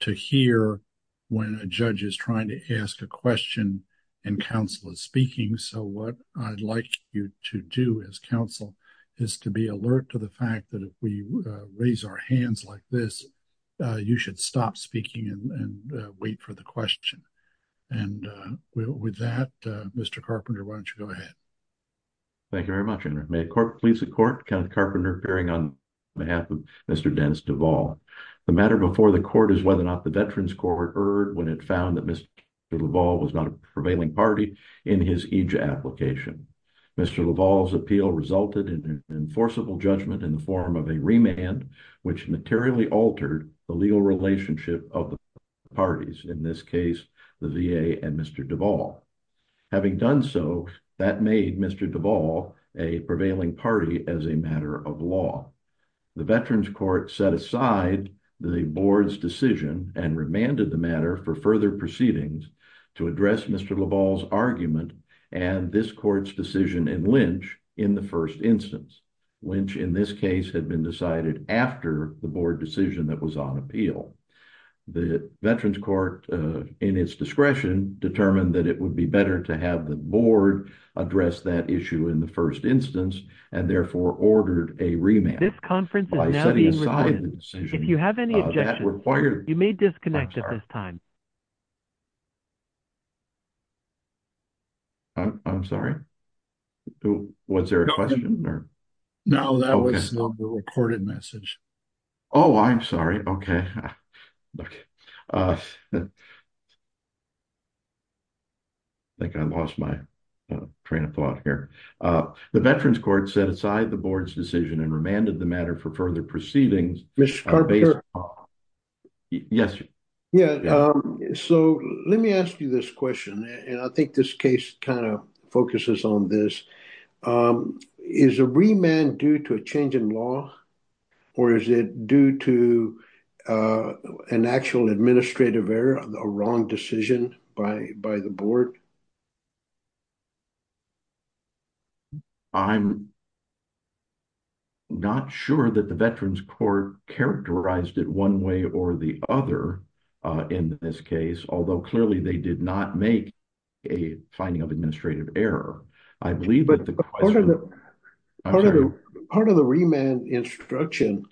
to hear when a judge is trying to ask a question and counsel is speaking. So what I'd like you to do as counsel is to be alert to the fact that if we raise our hands like this, you should stop speaking and wait for the question. And with that, Mr. Carpenter, why don't you go ahead? Thank you very much. And may it please the court, Counsel Carpenter appearing on behalf of Mr. Dennis Duvall. The matter before the court is whether or not the Veterans Court erred when it found that Mr. Duvall was not a prevailing party in his EJA application. Mr. Duvall's appeal resulted in an enforceable judgment in the form of a remand, which materially altered the legal relationship of the parties. In this case, the VA and Mr. Duvall. Having done so, that made Mr. Duvall a prevailing party as a matter of law. The Veterans Court set aside the board's decision and remanded the matter for further proceedings to address Mr. Duvall's argument and this court's decision in Lynch in the first instance, which in this case had been decided after the board decision that was on appeal. The Veterans Court, in its discretion, determined that it would be better to have the board address that issue in the first instance and therefore ordered a remand. I'm sorry. Was there a question? No, that was not the recorded message. Oh, I'm sorry. Okay. I think I lost my train of thought here. The Veterans Court set aside the board's decision and remanded the matter for further proceedings. Yes. Yeah. So let me ask you this question. And I think this case kind of focuses on this. Is a remand due to a change in law or is it due to an actual administrative error, a wrong decision by the board? I'm not sure that the Veterans Court characterized it one way or the other in this case, although clearly they did not make a finding of administrative error. Part of the remand instruction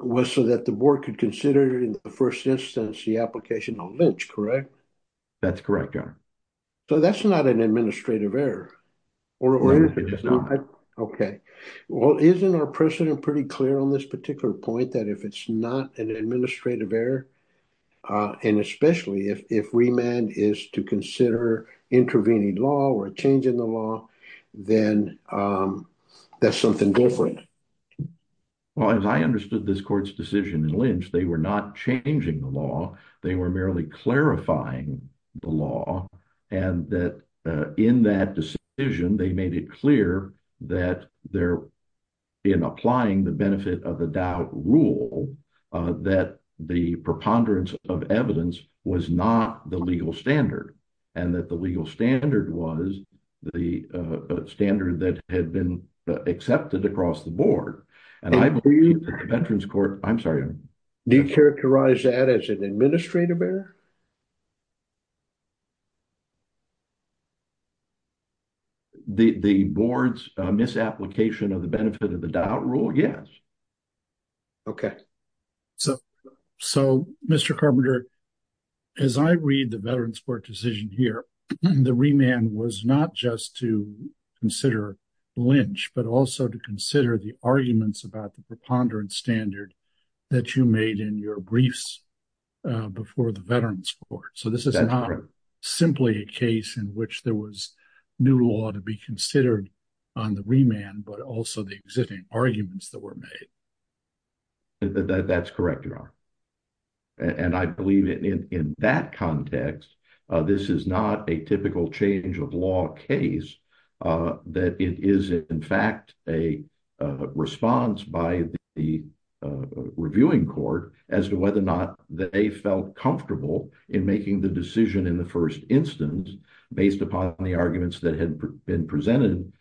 was so that the board could consider in the first instance the application on Lynch, correct? That's correct, Your Honor. So that's not an administrative error? No, it's not. Okay. Well, isn't our precedent pretty clear on this particular point that if it's not an administrative error, and especially if remand is to consider intervening law or changing the law, then that's something different? Well, as I understood this court's decision in Lynch, they were not changing the law. They were merely clarifying the law and that in that decision, they made it clear that they're in applying the benefit of the doubt rule that the preponderance of evidence was not the legal standard and that the legal standard was the standard that had been accepted across the board. And I believe that the Veterans Court, I'm sorry. Do you characterize that as an administrative error? The board's misapplication of the benefit of the doubt rule? Yes. Okay. So, Mr. Carpenter, as I read the Veterans Court decision here, the remand was not just to consider Lynch, but also to consider the arguments about the preponderance standard that you made in your briefs before the Veterans Court. So, this is not simply a case in which there was new law to be considered on the remand, but also the existing arguments that were made. That's correct, Your Honor. And I believe in that context, this is not a typical change of law case that it is, in fact, a response by the reviewing court as to whether or not that they felt comfortable in making the decision in the first instance based upon the arguments that had been presented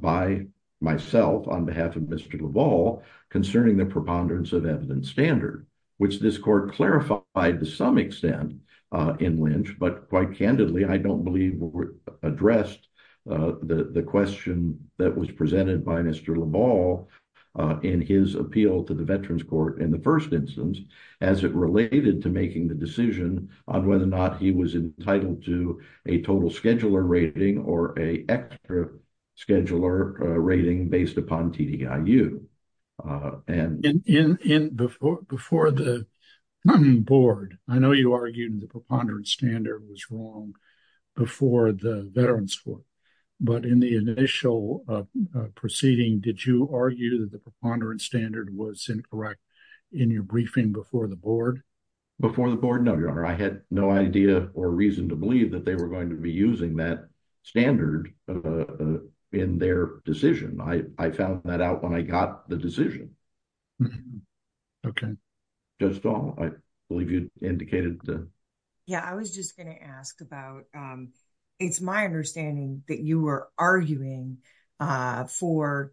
by myself on behalf of Mr. LaValle concerning the preponderance of evidence standard, which this court clarified to some extent in Lynch, but quite candidly, I don't believe addressed the question that was presented by Mr. LaValle in his appeal to the Veterans Court in the first instance as it related to making the decision on whether or not he was entitled to a total scheduler rating or a extra scheduler rating based upon TDIU. And before the board, I know you argued the preponderance standard was wrong before the Veterans Court, but in the initial proceeding, did you argue that the preponderance standard was incorrect in your briefing before the board? Before the board, no, Your Honor. I had no idea or reason to believe that they were going to be using that standard in their decision. I found that out when I got the decision. Okay. Judge Stahl, I believe you indicated the... Yeah, I was just going to ask about, it's my understanding that you were arguing for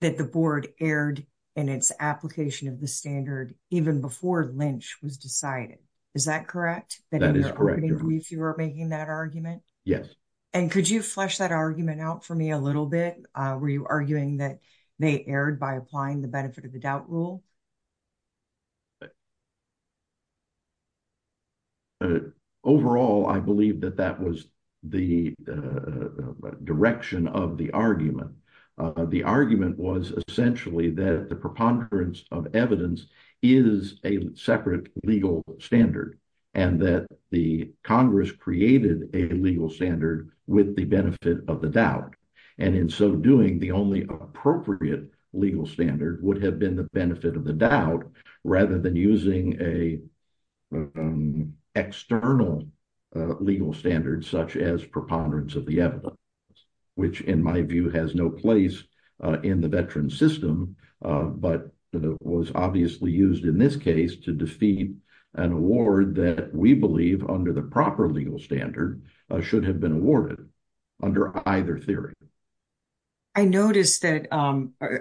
that the board erred in its application of the standard even before Lynch was decided. Is that correct? That is correct, Your Honor. If you were making that argument? Yes. And could you flesh that argument out for me a little bit? Were you arguing that they erred by applying the benefit of the doubt rule? Overall, I believe that that was the direction of the argument. The argument was essentially that the preponderance of evidence is a separate legal standard and that the Congress created a legal standard with the benefit of the doubt. And in so doing, the only appropriate legal standard would have been the benefit of the doubt rather than using an external legal standard such as preponderance of the evidence, which in my view has no place in the veteran system, but was obviously used in this case to defeat an award that we believe, under the proper legal standard, should have been awarded under either theory. I noticed that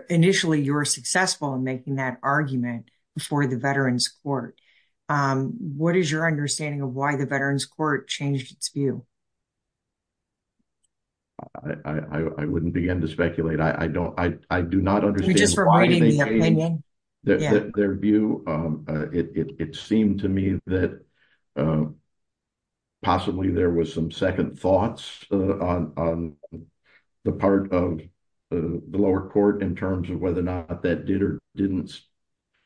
initially you were successful in making that argument before the Veterans Court. What is your understanding of why the Veterans Court changed its view? I wouldn't begin to speculate. I do not understand why they changed their view. It seemed to me that possibly there was some second thoughts on the part of the lower court in terms of whether or not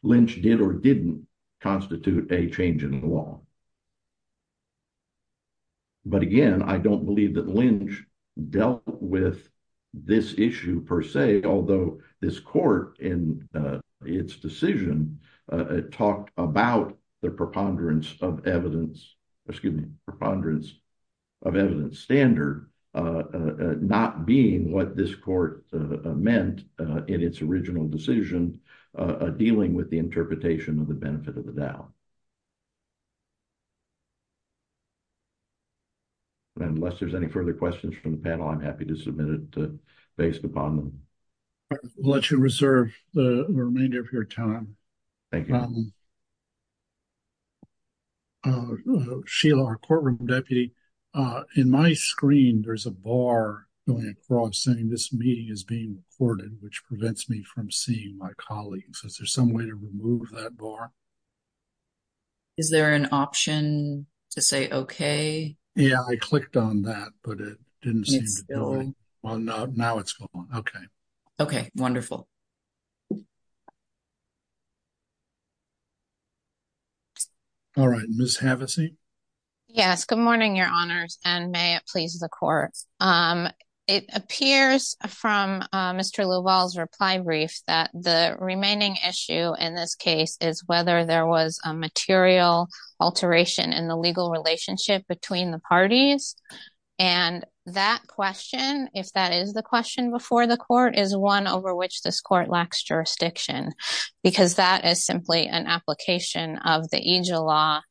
Lynch did or didn't constitute a change in the law. But again, I don't believe that Lynch dealt with this issue per se, although this court in its decision talked about the preponderance of evidence, excuse me, preponderance of evidence standard not being what this court meant in its original decision dealing with the interpretation of the benefit of the doubt. Unless there's any further questions from the panel, I'm happy to submit it based upon them. I'll let you reserve the remainder of your time. Thank you. Sheila, our courtroom deputy, in my screen there's a bar going across saying this meeting is being recorded, which prevents me from seeing my colleagues. Is there some way to remove that bar? Is there an option to say okay? Yeah, I clicked on that, but it didn't seem to go. Well, now it's gone. Okay. Okay, wonderful. All right, Ms. Havasey? Yes, good morning, Your Honors, and may it please the court. It appears from Mr. LaValle's reply brief that the remaining issue in this case is whether there was a material alteration in the legal relationship between the parties, and that question, if that is the question before the court, is one over which this court lacks jurisdiction, because that is simply an application of the Angel law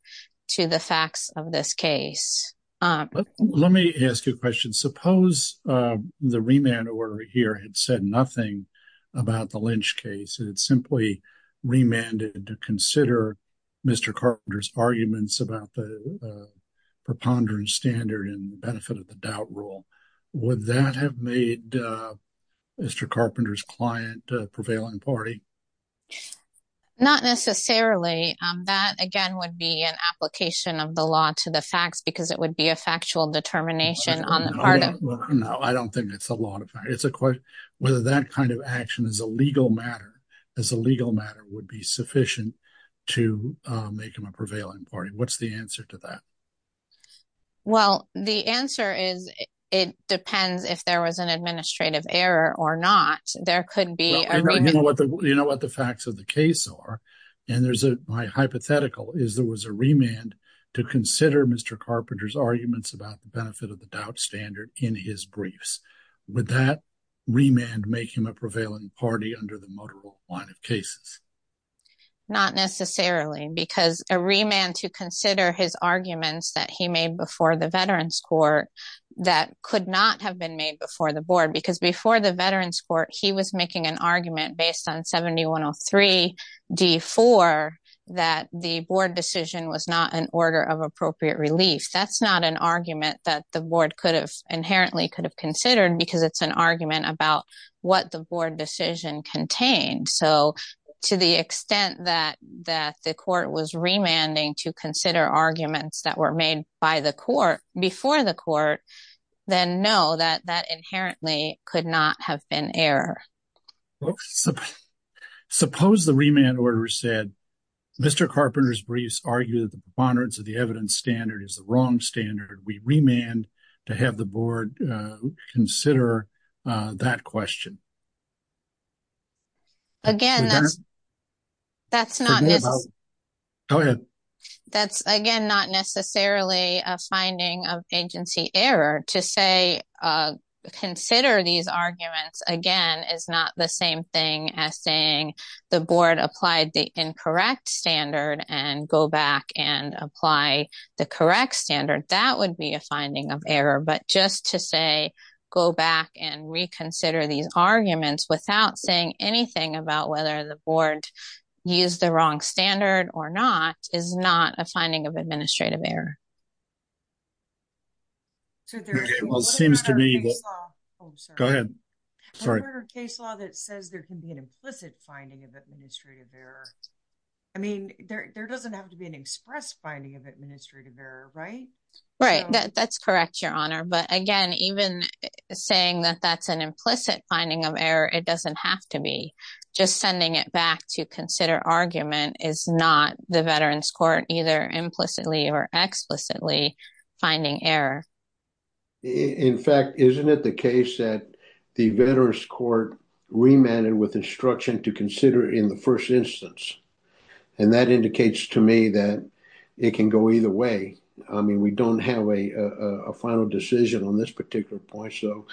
to the facts of this case. Let me ask you a question. Suppose the remand order here had said nothing about the Lynch case, and it simply remanded to consider Mr. Carpenter's arguments about the preponderance standard and benefit of the doubt rule. Would that have made Mr. Carpenter's client a prevailing party? Not necessarily. That, again, would be an application of the law to the facts, because it would be a factual determination on the part of... No, I don't think it's a law. It's a question whether that kind of action as a legal matter would be sufficient to make him a prevailing party. What's the answer to that? Well, the answer is it depends if there was an administrative error or not. Well, you know what the facts of the case are, and my hypothetical is there was a remand to consider Mr. Carpenter's arguments about the benefit of the doubt standard in his briefs. Would that remand make him a prevailing party under the motor rule line of cases? Not necessarily, because a remand to consider his arguments that he made before the Veterans Court that could not have been made before the board, because before the Veterans Court, he was making an argument based on 7103d4 that the board decision was not an order of appropriate relief. That's not an argument that the board could have inherently could have considered, because it's an argument about what the board decision contained. So to the extent that the remanding to consider arguments that were made by the court before the court, then no, that that inherently could not have been error. Suppose the remand order said, Mr. Carpenter's briefs argued that the preponderance of the evidence standard is the wrong standard. We remand to have the board consider that question. Again, that's, that's not, go ahead. That's again, not necessarily a finding of agency error to say, consider these arguments, again, is not the same thing as saying the board applied the incorrect standard and go back and apply the correct standard. That would be a finding of error. But just to say, go back and reconsider these arguments without saying anything about whether the board used the wrong standard or not, is not a finding of administrative error. So there seems to be a case law that says there can be an implicit finding of administrative error. I mean, there doesn't have to be an express finding of administrative error, right? Right. That's correct, Your Honor. But again, even saying that that's an implicit finding of error, it doesn't have to be. Just sending it back to consider argument is not the Veterans Court either implicitly or explicitly finding error. In fact, isn't it the case that the Veterans Court remanded with instruction to consider in the first instance? And that indicates to me that it can go either way. I mean, we don't have a final decision on this particular point. So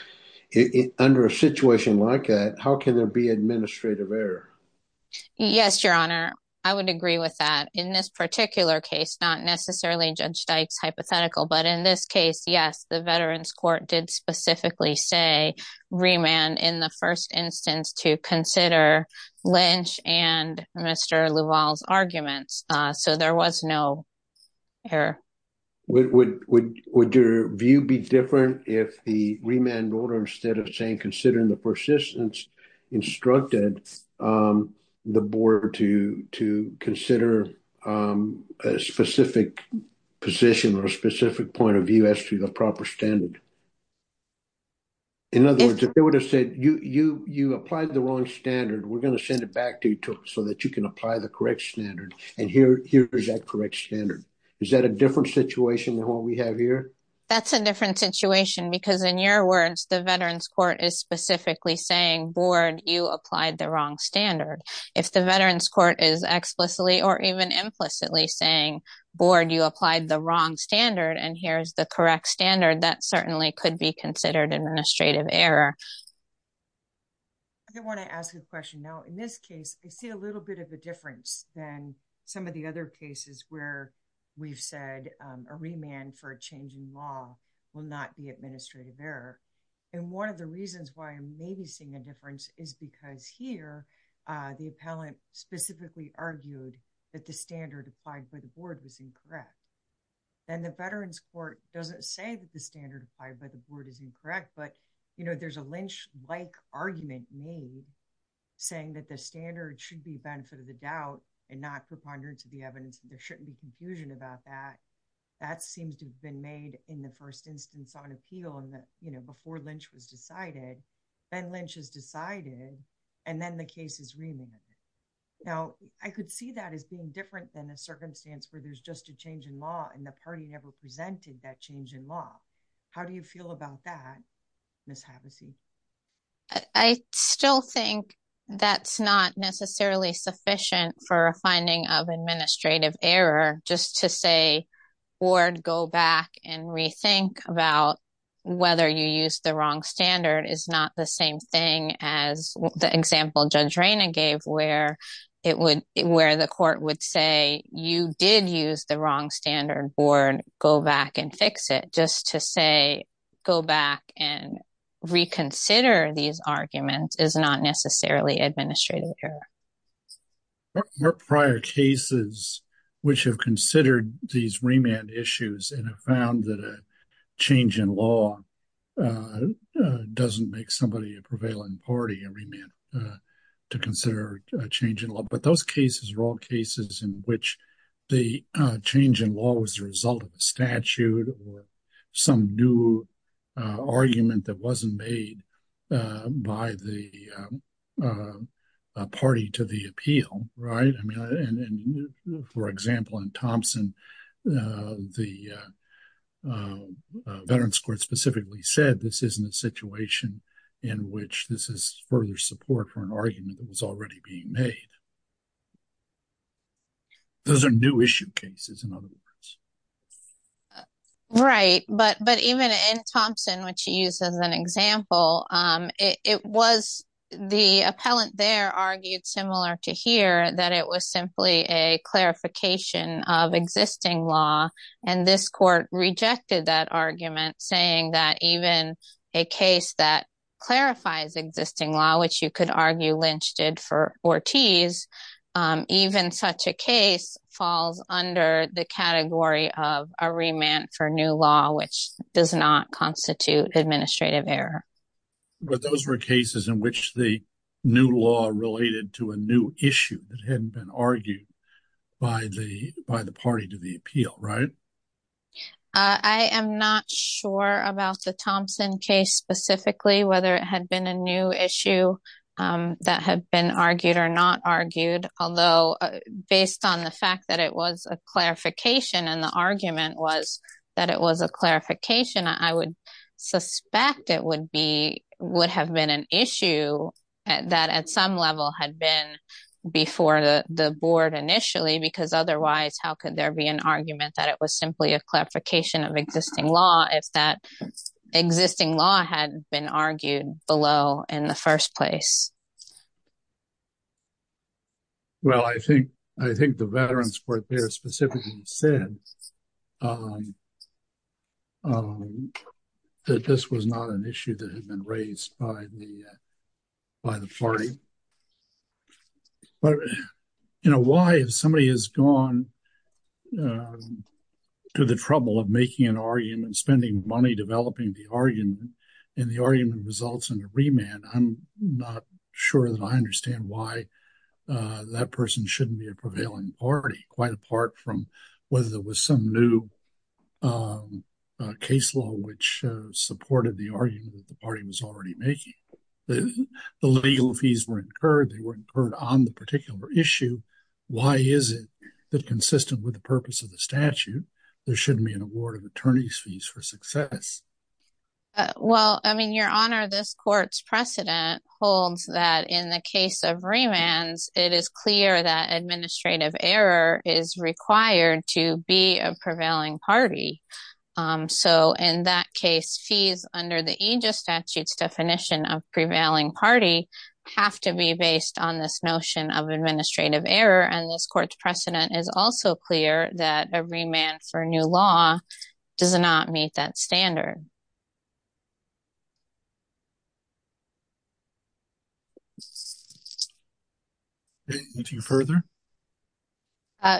under a situation like that, how can there be administrative error? Yes, Your Honor. I would agree with that. In this particular case, not necessarily Judge Dykes hypothetical, but in this case, yes, the Veterans Court did specifically say remand in the first instance to consider Lynch and Mr. Lavalle's arguments. So there was no error. Would your view be different if the remand order, instead of saying considering the persistence, instructed the board to consider a specific position or a specific point of view as to a proper standard? In other words, if they would have said, you applied the wrong standard, we're going to send it back to you so that you can apply the correct standard. And here is that correct standard. Is that a different situation than what we have here? That's a different situation because in your words, the Veterans Court is specifically saying, board, you applied the wrong standard. If the Veterans Court is explicitly or even implicitly saying, board, you applied the wrong standard, and here's the correct standard, that certainly could be considered administrative error. I want to ask a question. Now, in this case, I see a little bit of a difference than some of the other cases where we've said a remand for a change in law will not be administrative error. And one of the reasons why I'm maybe seeing a difference is because here, the appellant specifically argued that the standard applied by the board was incorrect. And the Veterans Court doesn't say that the standard applied by the board is incorrect, but there's a Lynch-like argument made saying that the standard should be a benefit of the doubt and not preponderance of the evidence, and there shouldn't be confusion about that. That seems to have been made in the first instance on appeal before Lynch was decided. Then Lynch has decided, and then the case is remanded. Now, I could see that as being different than a circumstance where there's just a change in law and the party never presented that change in law. How do you feel about that, Ms. Havasey? I still think that's not necessarily sufficient for a finding of administrative error, just to say, board, go back and rethink about whether you used the wrong standard is not the same thing as the example Judge Rayna gave where the court would say, you did use the wrong standard, board, go back and fix it. Just to say, go back and reconsider these arguments is not necessarily administrative error. There are prior cases which have considered these remand issues and have found that a change in law doesn't make somebody a prevailing party and remand to consider a change in law, but those cases are all cases in which the change in law was the result of a statute or some new argument that wasn't made by the party to the appeal. For example, in Thompson, Veterans Court specifically said this isn't a situation in which this is further support for an argument that was already being made. Those are new issue cases in other words. Right, but even in Thompson, which she used as an example, it was the appellant there argued similar to here that it was simply a clarification of existing law and this court rejected that argument saying that even a case that clarifies existing law, which you could argue Lynch did for Ortiz, even such a case falls under the category of a remand for new law which does not constitute administrative error. But those were cases in which the new law related to a new issue that had been argued by the party to the appeal, right? I am not sure about the Thompson case specifically, whether it had been a new issue that had been argued or not argued, although based on the fact that it was a clarification and the argument was that it was a clarification, I would suspect it would have been an issue that at some level had been before the board initially because otherwise how could there be an argument that it was simply a clarification of existing law if that existing law had been argued below in the first place? Well, I think the veterans court there specifically said that this was not an issue that had been raised by the party. But, you know, why if somebody has gone to the trouble of making an argument, spending money developing the argument, and the argument results in a remand, I'm not sure that I understand why that person shouldn't be a prevailing party quite apart from whether there was some new case law which supported the argument that the party was already making. The legal fees were incurred, they were incurred on the particular issue. Why is it that consistent with the purpose of the statute, there shouldn't be an award of fees for success? Well, I mean, your honor, this court's precedent holds that in the case of remands, it is clear that administrative error is required to be a prevailing party. So, in that case, fees under the aegis statutes definition of prevailing party have to be based on this notion of administrative error and this court's precedent is also clear that a remand for a new law does not meet that standard. Anything further?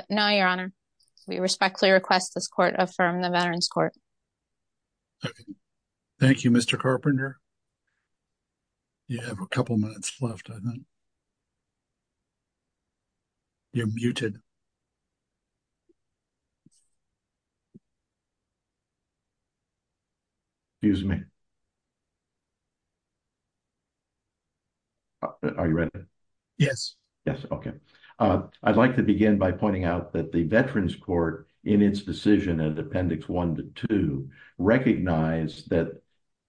No, your honor. We respectfully request this court affirm the Veterans Court. Thank you, Mr. Carpenter. You have a couple minutes left, I think. You're muted. Excuse me. Are you ready? Yes. Yes, okay. I'd like to begin by pointing out that the Veterans Court in its decision at appendix one to two recognized that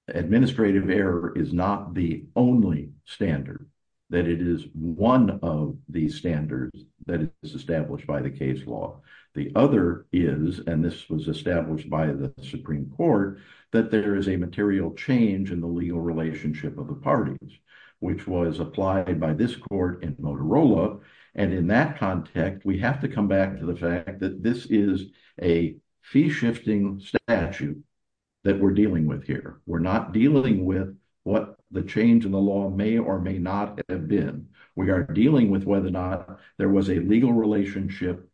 administrative error is not the only standard, that it is one of the standards that is established by the case law. The other is, and this was established by the Supreme Court, that there is a material change in the legal relationship of the parties, which was applied by this court in Motorola. And in that context, we have to come back to the fact that this is a fee-shifting statute that we're dealing with here. We're not dealing with what the change in the law may or may not have been. We are dealing with whether or not there was a legal relationship,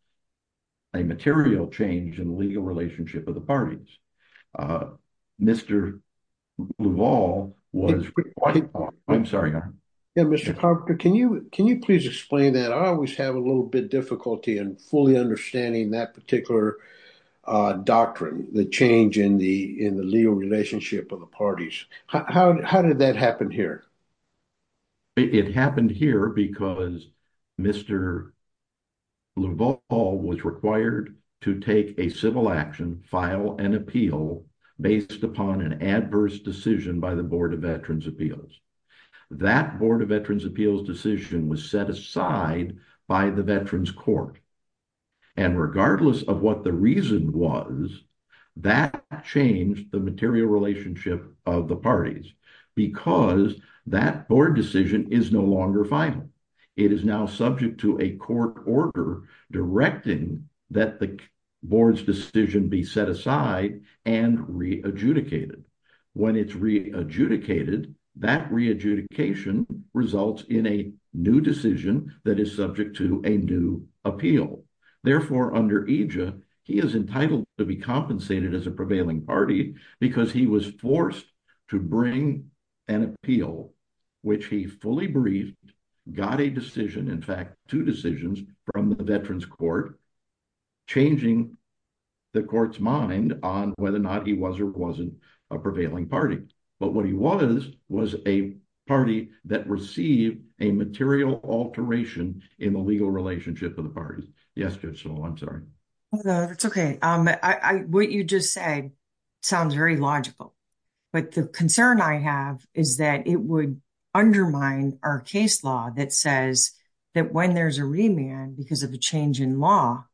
a material change in the legal relationship of the parties. Mr. Bluval was... I'm sorry, your honor. Yeah, Mr. Carpenter, can you please explain that? I always have a little bit difficulty in fully understanding that particular doctrine, the change in the legal relationship of the parties. How did that happen here? It happened here because Mr. Bluval was required to take a civil action, file an appeal based upon an adverse decision by the Board of Veterans' Appeals. That Board of Veterans' Appeals decision was set aside by the Veterans Court. And regardless of what the reason was, that changed the material relationship of the parties because that board decision is no longer final. It is now subject to a court order directing that the board's decision be set aside and re-adjudicated. When it's re-adjudicated, that re-adjudication results in a new decision that is subject to a new appeal. Therefore, under AJA, he is entitled to be compensated as a prevailing party because he was forced to bring an appeal, which he fully briefed, got a decision, in fact, two decisions from the Veterans Court, changing the court's mind on whether or not he was or wasn't a prevailing party. But what he was was a party that received a material alteration in the legal relationship of the parties. Yes, Judge Sewell, I'm sorry. No, that's okay. What you just said sounds very logical. But the concern I have is that it would undermine our case law that says that when there's a remand because of a change in law,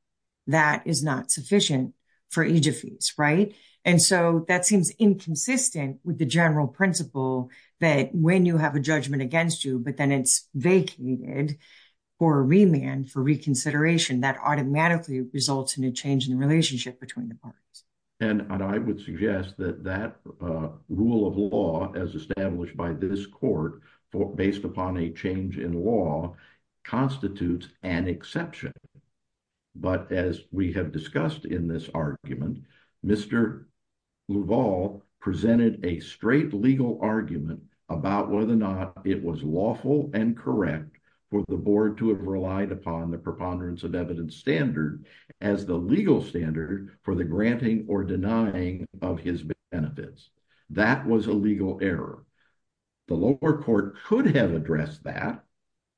that is not sufficient for AJA fees, right? And so that seems inconsistent with the general principle that when you have a judgment against you, but then it's vacated for a remand, for reconsideration, that automatically results in a change in the relationship between the parties. And I would suggest that that rule of law as established by this court based upon a change in law constitutes an exception. But as we have discussed in this argument, Mr. Louval presented a straight legal argument about whether or not it was lawful and correct for the board to have relied upon the preponderance of evidence standard as the legal standard for the granting or denying of his benefits. That was a legal error. The lower court could have addressed that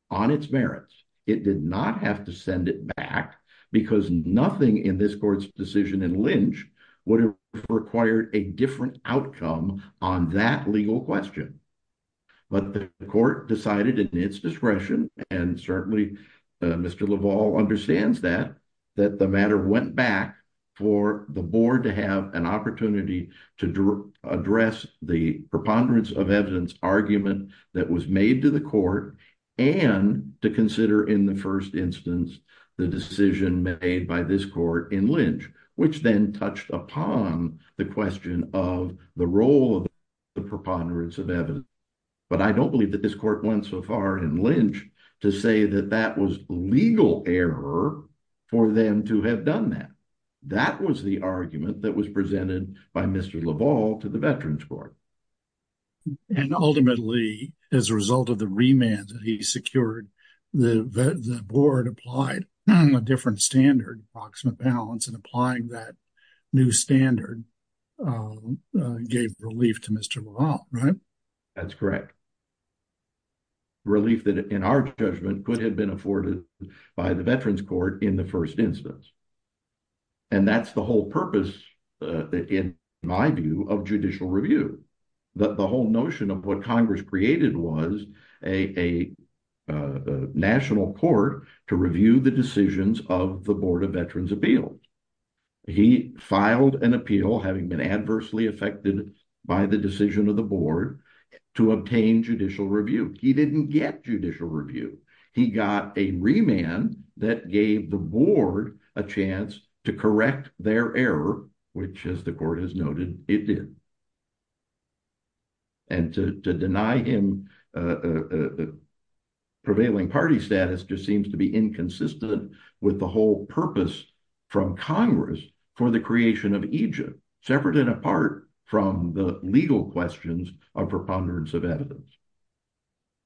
on its merits. It did not have to send it back because nothing in this court's decision in lynch would have required a different outcome on that legal question. But the court decided in its discretion, and certainly Mr. Louval understands that, that the matter went back for the board to have an opportunity to address the preponderance of evidence argument that was made to the court and to consider in the first instance the decision made by this court in lynch, which then touched upon the question of the role of the preponderance of evidence. But I don't believe that this court went so far in lynch to say that that was legal error for them to have done that. That was the argument that was presented by Mr. Louval to the Veterans Court. And ultimately, as a result of the remand that he secured, the board applied a different standard, approximate balance, and applying that new standard gave relief to Mr. Louval, right? That's correct. Relief that in our judgment could have been afforded by the Veterans Court in the first instance. And that's the whole purpose, in my view, of judicial review. The whole notion of what Congress created was national court to review the decisions of the Board of Veterans Appeals. He filed an appeal, having been adversely affected by the decision of the board, to obtain judicial review. He didn't get judicial review. He got a remand that gave the board a chance to correct their error, which, as the court has noted, it did. And to deny him prevailing party status just seems to be inconsistent with the whole purpose from Congress for the creation of Egypt, separate and apart from the legal questions of preponderance of evidence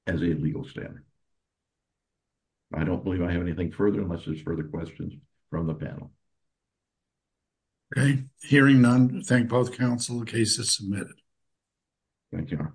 as a legal standard. I don't believe I have anything further unless there's further questions from the panel. Hearing none, I thank both counsel. The case is submitted. Thank you.